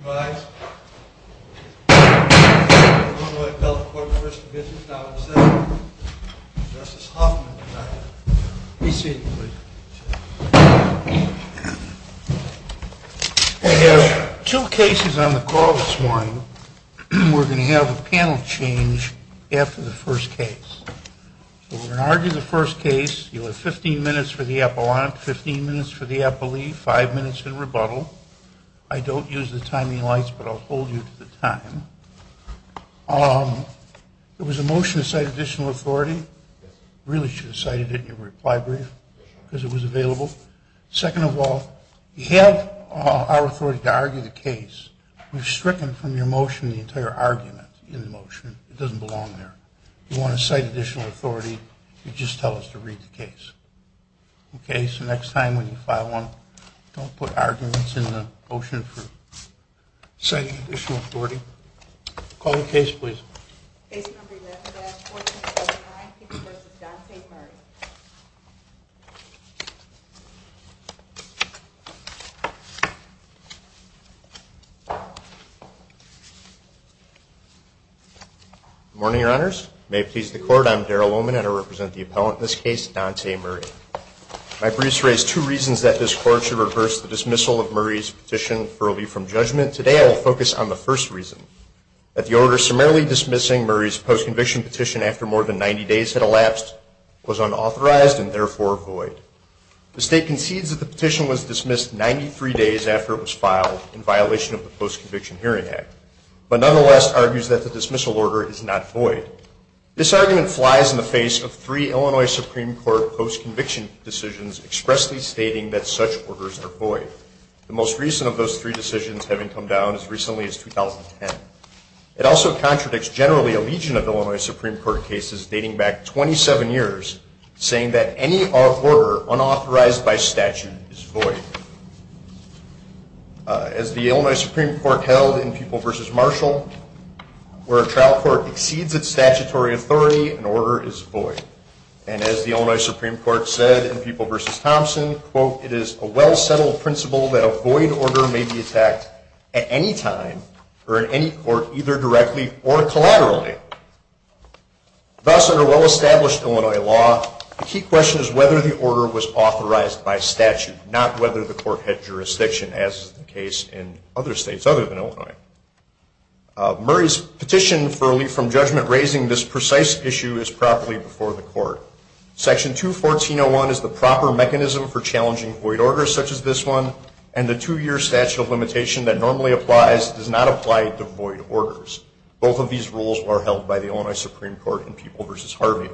I have two cases on the call this morning. We're going to have a panel change after the first case. We're going to argue the first case. You have 15 minutes for the appellant, 15 minutes for the appellee, 5 minutes in rebuttal. I don't use the timing lights, but I'll hold you to the time. There was a motion to cite additional authority. Really should have cited it in your reply brief because it was available. Second of all, you have our authority to argue the case. We've stricken from your motion the entire argument in the motion. It doesn't belong there. You want to cite additional authority, you just tell us to read the case. Okay, so next time when you file one, don't put arguments in the motion for citing additional authority. Call the case, please. Morning, Your Honors. May it please the Court, I'm Daryl Oman and I represent the appellant in this case, Dante Murray. My briefs raise two reasons that this Court should reverse the dismissal of Murray's petition for a leave from judgment. Today I will focus on the first reason, that the order summarily dismissing Murray's post-conviction petition after more than 90 days had elapsed was unauthorized and therefore void. The State concedes that the petition was dismissed 93 days after it was filed in violation of the Post-Conviction Hearing Act, but nonetheless argues that the dismissal order is not void. This argument flies in the face of three Illinois Supreme Court post-conviction decisions expressly stating that such orders are void. The most recent of those three decisions having come down as recently as 2010. It also contradicts generally a legion of Illinois Supreme Court cases dating back 27 years saying that any order unauthorized by statute is void. As the Illinois Supreme Court held in Pupil v. Marshall, where a trial court exceeds its statutory authority, an order is void. And as the Illinois Supreme Court said in Pupil v. Thompson, quote, it is a well-settled principle that a void order may be attacked at any time or in any court either directly or collaterally. Thus, under well-established Illinois law, the key question is whether the order was authorized by statute, not whether the court had jurisdiction as is the case in other states other than Illinois. Murray's petition for relief from judgment raising this precise issue is properly before the court. Section 214.01 is the proper mechanism for challenging void orders such as this one, and the two-year statute of limitation that normally applies does not apply to void orders. Both of these rules are held by the Illinois Supreme Court in Pupil v. Harvey.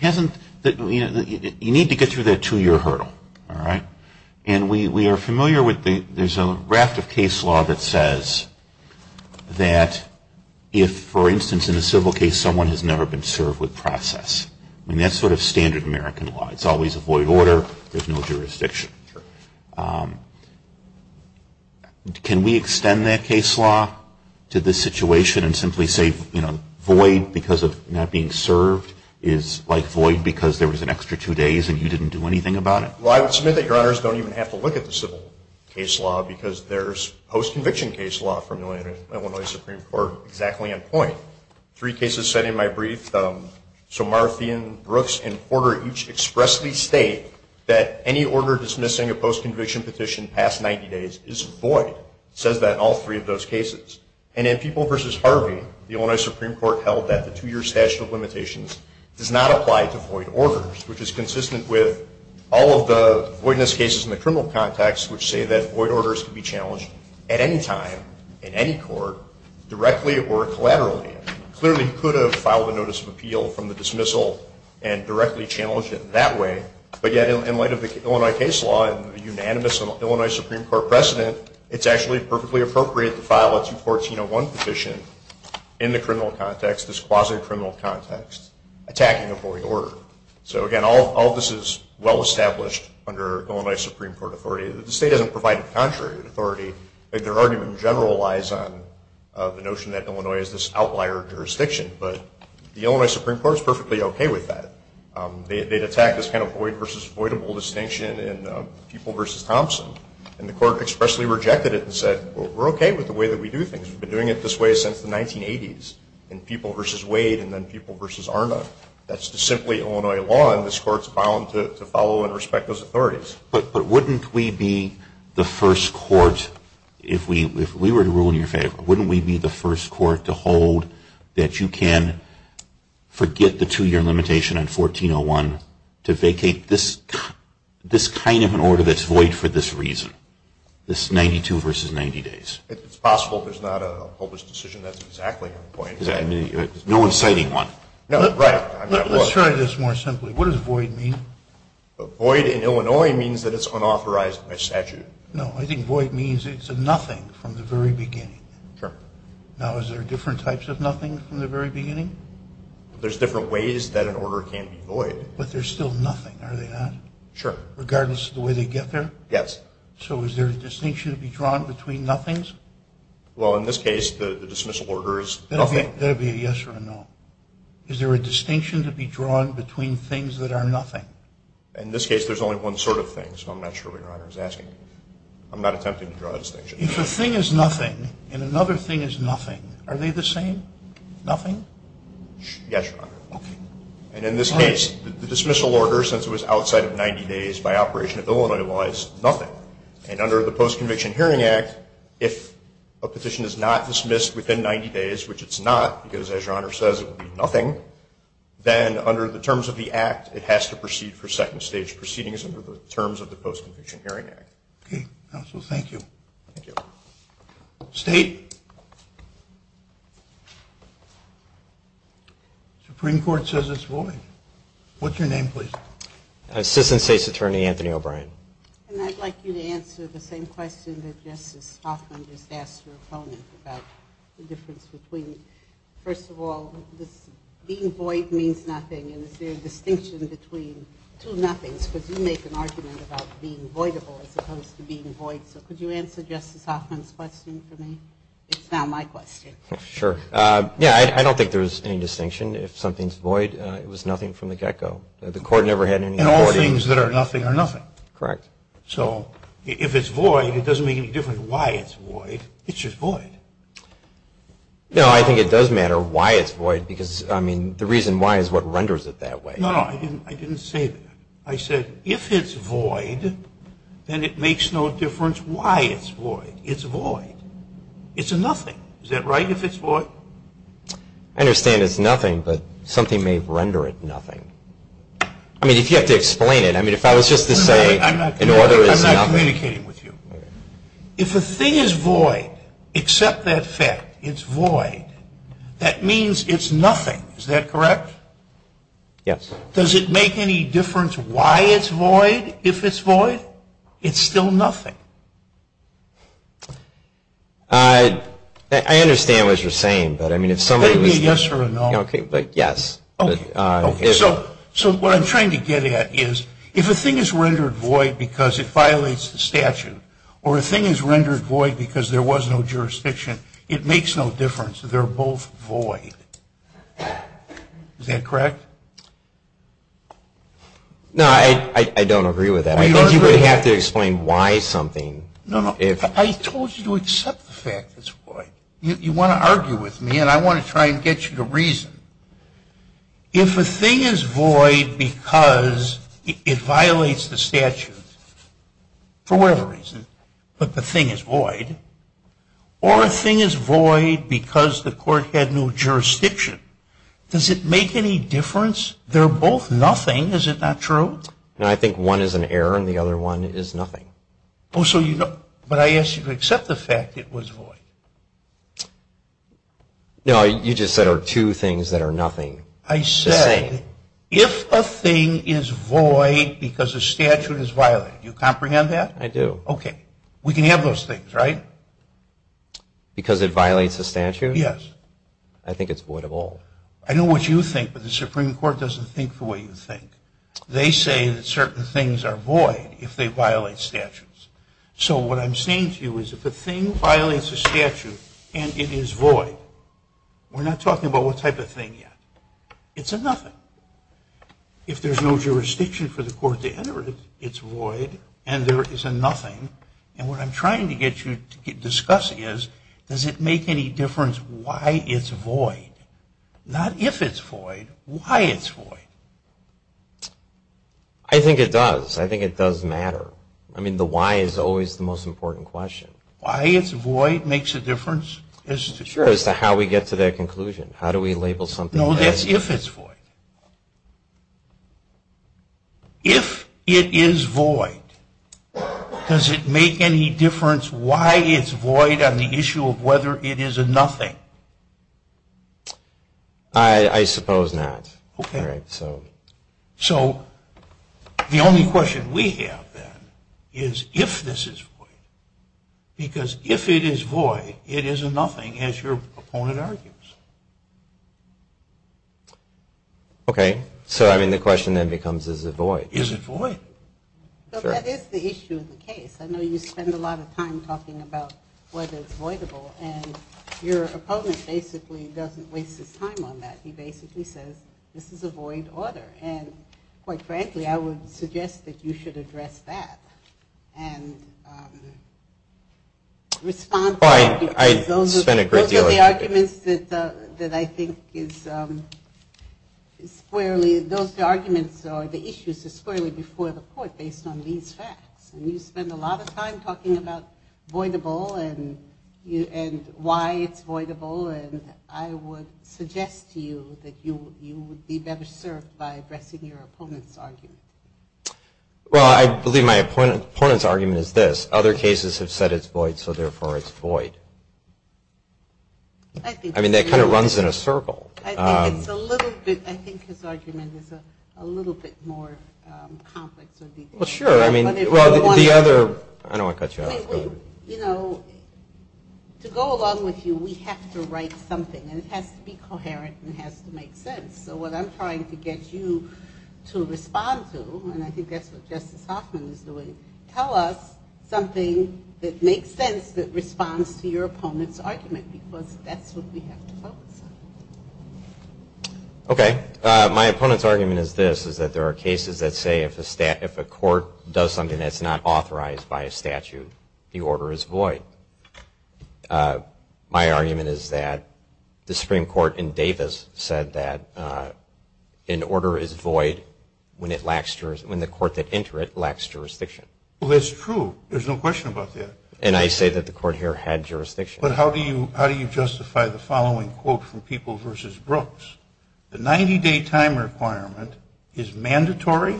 You need to get through that two-year hurdle, all right? And we are familiar with the – there's a raft of case law that says that if, for instance, in a civil case someone has never been served with process. I mean, that's sort of standard American law. It's always a void order. There's no jurisdiction. Can we extend that case law to this situation and simply say, you know, void because of not being served is like void because there was an extra two days and you didn't do anything about it? Well, I would submit that Your Honors don't even have to look at the civil case law because there's post-conviction case law from the Illinois Supreme Court exactly on point. Three cases said in my brief, so Marthian, Brooks, and Porter each expressly state that any order dismissing a post-conviction petition past 90 days is void. It says that in all three of those cases. And in Pupil v. Harvey, the Illinois Supreme Court held that the two-year statute of limitations does not apply to void orders, which is consistent with all of the voidness cases in the criminal context which say that void orders can be challenged at any time in any court directly or collaterally. Clearly, you could have filed a notice of appeal from the dismissal and directly challenged it that way. But yet, in light of the Illinois case law and the unanimous Illinois Supreme Court precedent, it's actually perfectly appropriate to file a 214-01 petition in the criminal context, this quasi-criminal context, attacking a void order. So again, all of this is well-established under Illinois Supreme Court authority. The state doesn't provide a contrary authority. Their argument in general lies on the notion that Illinois is this outlier jurisdiction. But the Illinois Supreme Court is perfectly okay with that. They'd attack this kind of void versus avoidable distinction in Pupil v. Thompson. And the court expressly rejected it and said, well, we're okay with the way that we do things. We've been doing it this way since the 1980s in Pupil v. Wade and then Pupil v. Arna. That's simply Illinois law, and this court's bound to follow and respect those authorities. But wouldn't we be the first court, if we were to rule in your favor, wouldn't we be the first court to hold that you can forget the two-year limitation on 14-01 to vacate this kind of an order that's void for this reason, this 92 versus 90 days? It's possible. There's not a published decision that's exactly on the point. No one's citing one. Let's try this more simply. What does void mean? Void in Illinois means that it's unauthorized by statute. No, I think void means it's a nothing from the very beginning. Now, is there different types of nothing from the very beginning? There's different ways that an order can be void. But they're still nothing, are they not? Sure. Regardless of the way they get there? Yes. So is there a distinction to be drawn between nothings? Well, in this case, the dismissal order is nothing. That would be a yes or a no. Is there a distinction to be drawn between things that are nothing? In this case, there's only one sort of thing, so I'm not sure what Your Honor is asking. I'm not attempting to draw a distinction. If a thing is nothing and another thing is nothing, are they the same, nothing? Yes, Your Honor. Okay. And in this case, the dismissal order, since it was outside of 90 days by operation of Illinois law, is nothing. And under the Post-Conviction Hearing Act, if a petition is not dismissed within 90 days, which it's not, because as Your Honor says, it would be nothing, then under the terms of the act, it has to proceed for second stage proceedings under the terms of the Post-Conviction Hearing Act. Okay. Counsel, thank you. Thank you. State? Supreme Court says it's void. What's your name, please? Assistant State's Attorney, Anthony O'Brien. And I'd like you to answer the same question that Justice Hoffman just asked your opponent about the difference between, first of all, being void means nothing, and is there a distinction between two nothings? Because you make an argument about being voidable as opposed to being void, so could you answer Justice Hoffman's question for me? It's now my question. Sure. Yeah, I don't think there's any distinction. If something's void, it was nothing from the get-go. The Court never had any authority. Things that are nothing are nothing. Correct. So if it's void, it doesn't make any difference why it's void. It's just void. No, I think it does matter why it's void, because, I mean, the reason why is what renders it that way. No, no, I didn't say that. I said if it's void, then it makes no difference why it's void. It's void. It's a nothing. Is that right, if it's void? I understand it's nothing, but something may render it nothing. I mean, if you have to explain it. I mean, if I was just to say an order is nothing. I'm not communicating with you. If a thing is void, except that fact it's void, that means it's nothing. Is that correct? Yes. Does it make any difference why it's void if it's void? It's still nothing. I understand what you're saying, but, I mean, if somebody was. It could be a yes or a no. Okay, but yes. Okay, so what I'm trying to get at is if a thing is rendered void because it violates the statute, or a thing is rendered void because there was no jurisdiction, it makes no difference. They're both void. Is that correct? No, I don't agree with that. I think you would have to explain why something. No, no, I told you to accept the fact it's void. You want to argue with me, and I want to try and get you to reason. If a thing is void because it violates the statute, for whatever reason, but the thing is void, or a thing is void because the court had no jurisdiction, does it make any difference? They're both nothing. Is it not true? No, I think one is an error, and the other one is nothing. But I asked you to accept the fact it was void. No, you just said there are two things that are nothing. I said if a thing is void because the statute is violated, do you comprehend that? I do. Okay, we can have those things, right? Because it violates the statute? Yes. I think it's void of all. I know what you think, but the Supreme Court doesn't think the way you think. They say that certain things are void if they violate statutes. So what I'm saying to you is if a thing violates a statute and it is void, we're not talking about what type of thing yet. It's a nothing. If there's no jurisdiction for the court to enter it, it's void, and there is a nothing. And what I'm trying to get you to discuss is, does it make any difference why it's void? Not if it's void, why it's void. I think it does. I think it does matter. I mean the why is always the most important question. Why it's void makes a difference? Sure, as to how we get to that conclusion. No, that's if it's void. If it is void, does it make any difference why it's void on the issue of whether it is a nothing? I suppose not. Okay. All right, so. So the only question we have, then, is if this is void. Because if it is void, it is a nothing, as your opponent argues. Okay. So, I mean, the question then becomes, is it void? Is it void? Sure. But that is the issue of the case. I know you spend a lot of time talking about whether it's voidable, and your opponent basically doesn't waste his time on that. He basically says, this is a void order, and quite frankly, I would suggest that you should address that and respond to that. Well, I spent a great deal of time. Those are the arguments that I think is squarely, those arguments or the issues are squarely before the court based on these facts. And you spend a lot of time talking about voidable and why it's voidable, and I would suggest to you that you would be better served by addressing your opponent's argument. Well, I believe my opponent's argument is this. Other cases have said it's void, so therefore it's void. I mean, that kind of runs in a circle. I think it's a little bit, I think his argument is a little bit more complex. Well, sure. I mean, the other, I don't want to cut you off. You know, to go along with you, we have to write something, and it has to be coherent and it has to make sense. So what I'm trying to get you to respond to, and I think that's what Justice Hoffman is doing, tell us something that makes sense that responds to your opponent's argument because that's what we have to focus on. Okay. My opponent's argument is this, is that there are cases that say if a court does something that's not authorized by a statute, the order is void. My argument is that the Supreme Court in Davis said that an order is void when the court that entered it lacks jurisdiction. Well, that's true. There's no question about that. And I say that the court here had jurisdiction. But how do you justify the following quote from People v. Brooks? The 90-day time requirement is mandatory,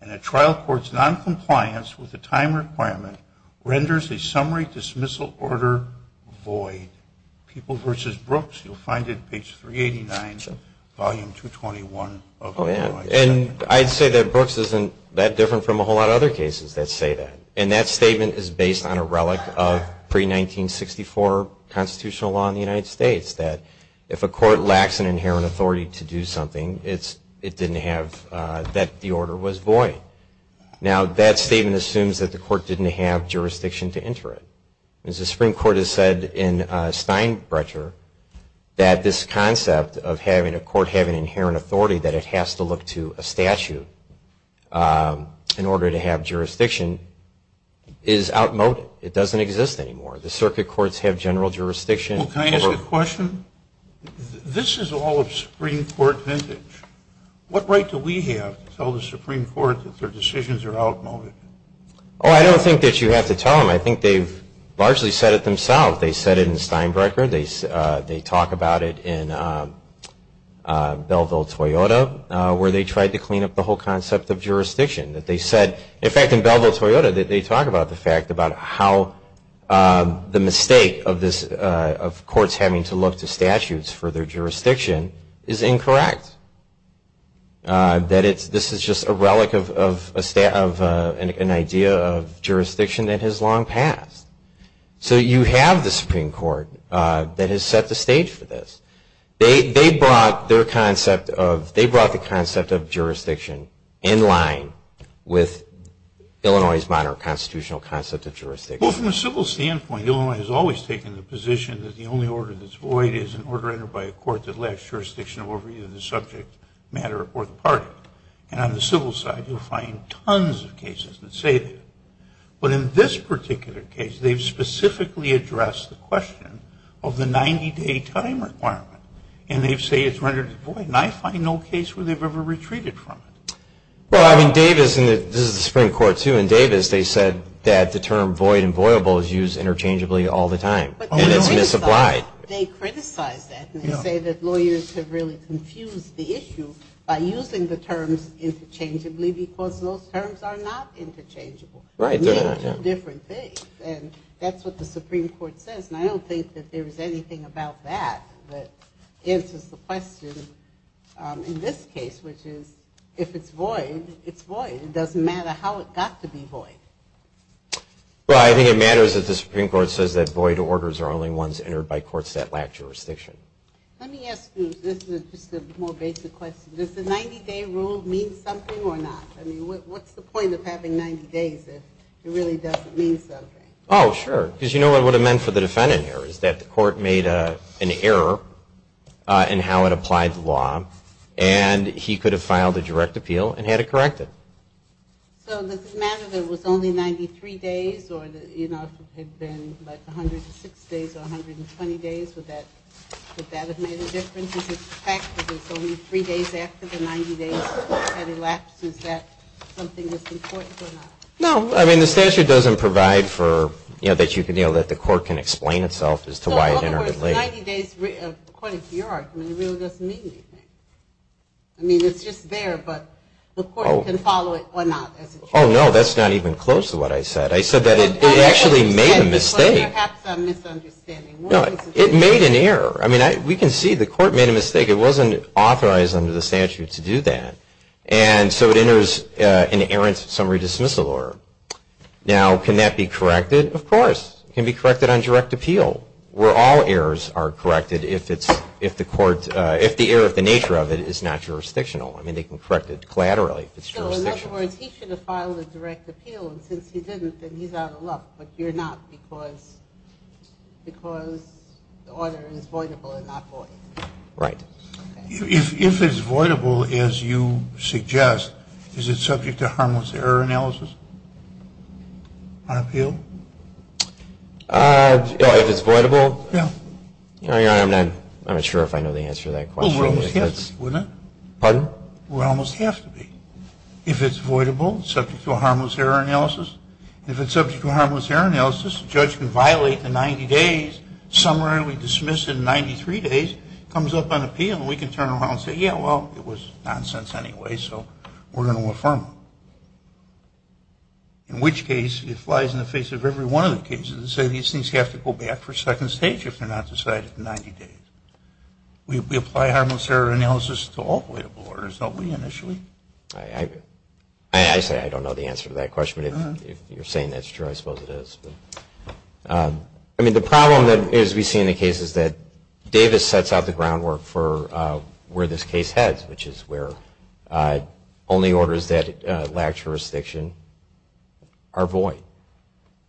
and a trial court's noncompliance with the time requirement renders a summary dismissal order void. People v. Brooks, you'll find it page 389, volume 221. Oh, yeah. And I'd say that Brooks isn't that different from a whole lot of other cases that say that. And that statement is based on a relic of pre-1964 constitutional law in the United States, that if a court lacks an inherent authority to do something, it didn't have that the order was void. Now, that statement assumes that the court didn't have jurisdiction to enter it. As the Supreme Court has said in Steinbrecher, that this concept of having a court have an inherent authority, that it has to look to a statute in order to have jurisdiction, is outmoded. It doesn't exist anymore. The circuit courts have general jurisdiction. Well, can I ask a question? This is all of Supreme Court vintage. What right do we have to tell the Supreme Court that their decisions are outmoded? Oh, I don't think that you have to tell them. I think they've largely said it themselves. They said it in Steinbrecher. They talk about it in Belleville-Toyota, where they tried to clean up the whole concept of jurisdiction. In fact, in Belleville-Toyota, they talk about the fact about how the mistake of courts having to look to statutes for their jurisdiction is incorrect. That this is just a relic of an idea of jurisdiction that has long passed. So you have the Supreme Court that has set the stage for this. They brought the concept of jurisdiction in line with Illinois' modern constitutional concept of jurisdiction. Well, from a civil standpoint, Illinois has always taken the position that the only order that's void is an order entered by a court that lacks jurisdiction over either the subject matter or the party. And on the civil side, you'll find tons of cases that say that. But in this particular case, they've specifically addressed the question of the 90-day time requirement. And they say it's rendered void. And I find no case where they've ever retreated from it. Well, I mean, Davis, and this is the Supreme Court, too, in Davis they said that the term void and voyable is used interchangeably all the time. And it's misapplied. They criticize that. And they say that lawyers have really confused the issue by using the terms interchangeably because those terms are not interchangeable. They mean two different things. And that's what the Supreme Court says. And I don't think that there is anything about that that answers the question in this case, which is if it's void, it's void. It doesn't matter how it got to be void. Well, I think it matters that the Supreme Court says that void orders are only ones entered by courts that lack jurisdiction. Let me ask you, this is just a more basic question. Does the 90-day rule mean something or not? I mean, what's the point of having 90 days if it really doesn't mean something? Oh, sure. Because you know what it would have meant for the defendant here is that the court made an error in how it applied the law. And he could have filed a direct appeal and had it corrected. So does it matter that it was only 93 days or, you know, if it had been like 106 days or 120 days, would that have made a difference? In fact, if it's only three days after the 90 days had elapsed, is that something that's important or not? No. I mean, the statute doesn't provide for, you know, that the court can explain itself as to why it entered late. So, in other words, 90 days, according to your argument, really doesn't mean anything. I mean, it's just there, but the court can follow it or not. Oh, no, that's not even close to what I said. I said that it actually made a mistake. Perhaps I'm misunderstanding. No, it made an error. I mean, we can see the court made a mistake. It wasn't authorized under the statute to do that. And so it enters an errant summary dismissal order. Now, can that be corrected? Of course. It can be corrected on direct appeal where all errors are corrected. If the error of the nature of it is not jurisdictional. I mean, they can correct it collaterally if it's jurisdictional. So, in other words, he should have filed a direct appeal. And since he didn't, then he's out of luck. But you're not because the order is voidable and not void. Right. If it's voidable, as you suggest, is it subject to harmless error analysis on appeal? If it's voidable? Yeah. I'm not sure if I know the answer to that question. Well, we almost have to, wouldn't it? Pardon? We almost have to be. If it's voidable, subject to a harmless error analysis. If it's subject to a harmless error analysis, the judge can violate the 90 days, summarily dismiss it in 93 days, comes up on appeal, and we can turn around and say, yeah, well, it was nonsense anyway, so we're going to affirm it. In which case, it flies in the face of every one of the cases and say these things have to go back for a second stage if they're not decided in 90 days. We apply harmless error analysis to all voidable orders, don't we, initially? I say I don't know the answer to that question. If you're saying that's true, I suppose it is. I mean, the problem that we see in the case is that Davis sets out the groundwork for where this case heads, which is where only orders that lack jurisdiction are void.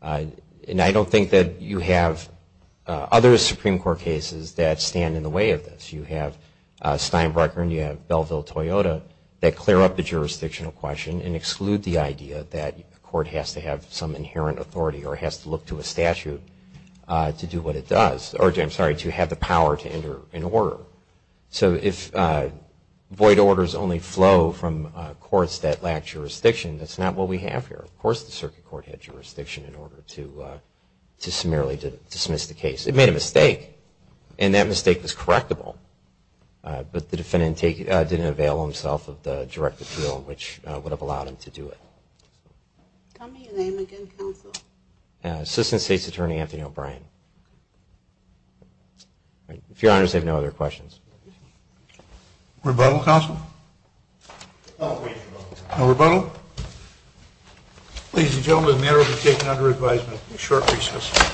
And I don't think that you have other Supreme Court cases that stand in the way of this. You have Steinbrecher and you have Belleville-Toyota that clear up the jurisdictional question and exclude the idea that a court has to have some inherent authority or has to look to a statute to do what it does, or I'm sorry, to have the power to enter an order. So if void orders only flow from courts that lack jurisdiction, that's not what we have here. Of course the circuit court had jurisdiction in order to summarily dismiss the case. It made a mistake, and that mistake was correctable, but the defendant didn't avail himself of the direct appeal which would have allowed him to do it. Tell me your name again, counsel. Assistant State's Attorney Anthony O'Brien. Rebuttal, counsel? No rebuttal. No rebuttal. Ladies and gentlemen, the matter has been taken under advisement for a short recess.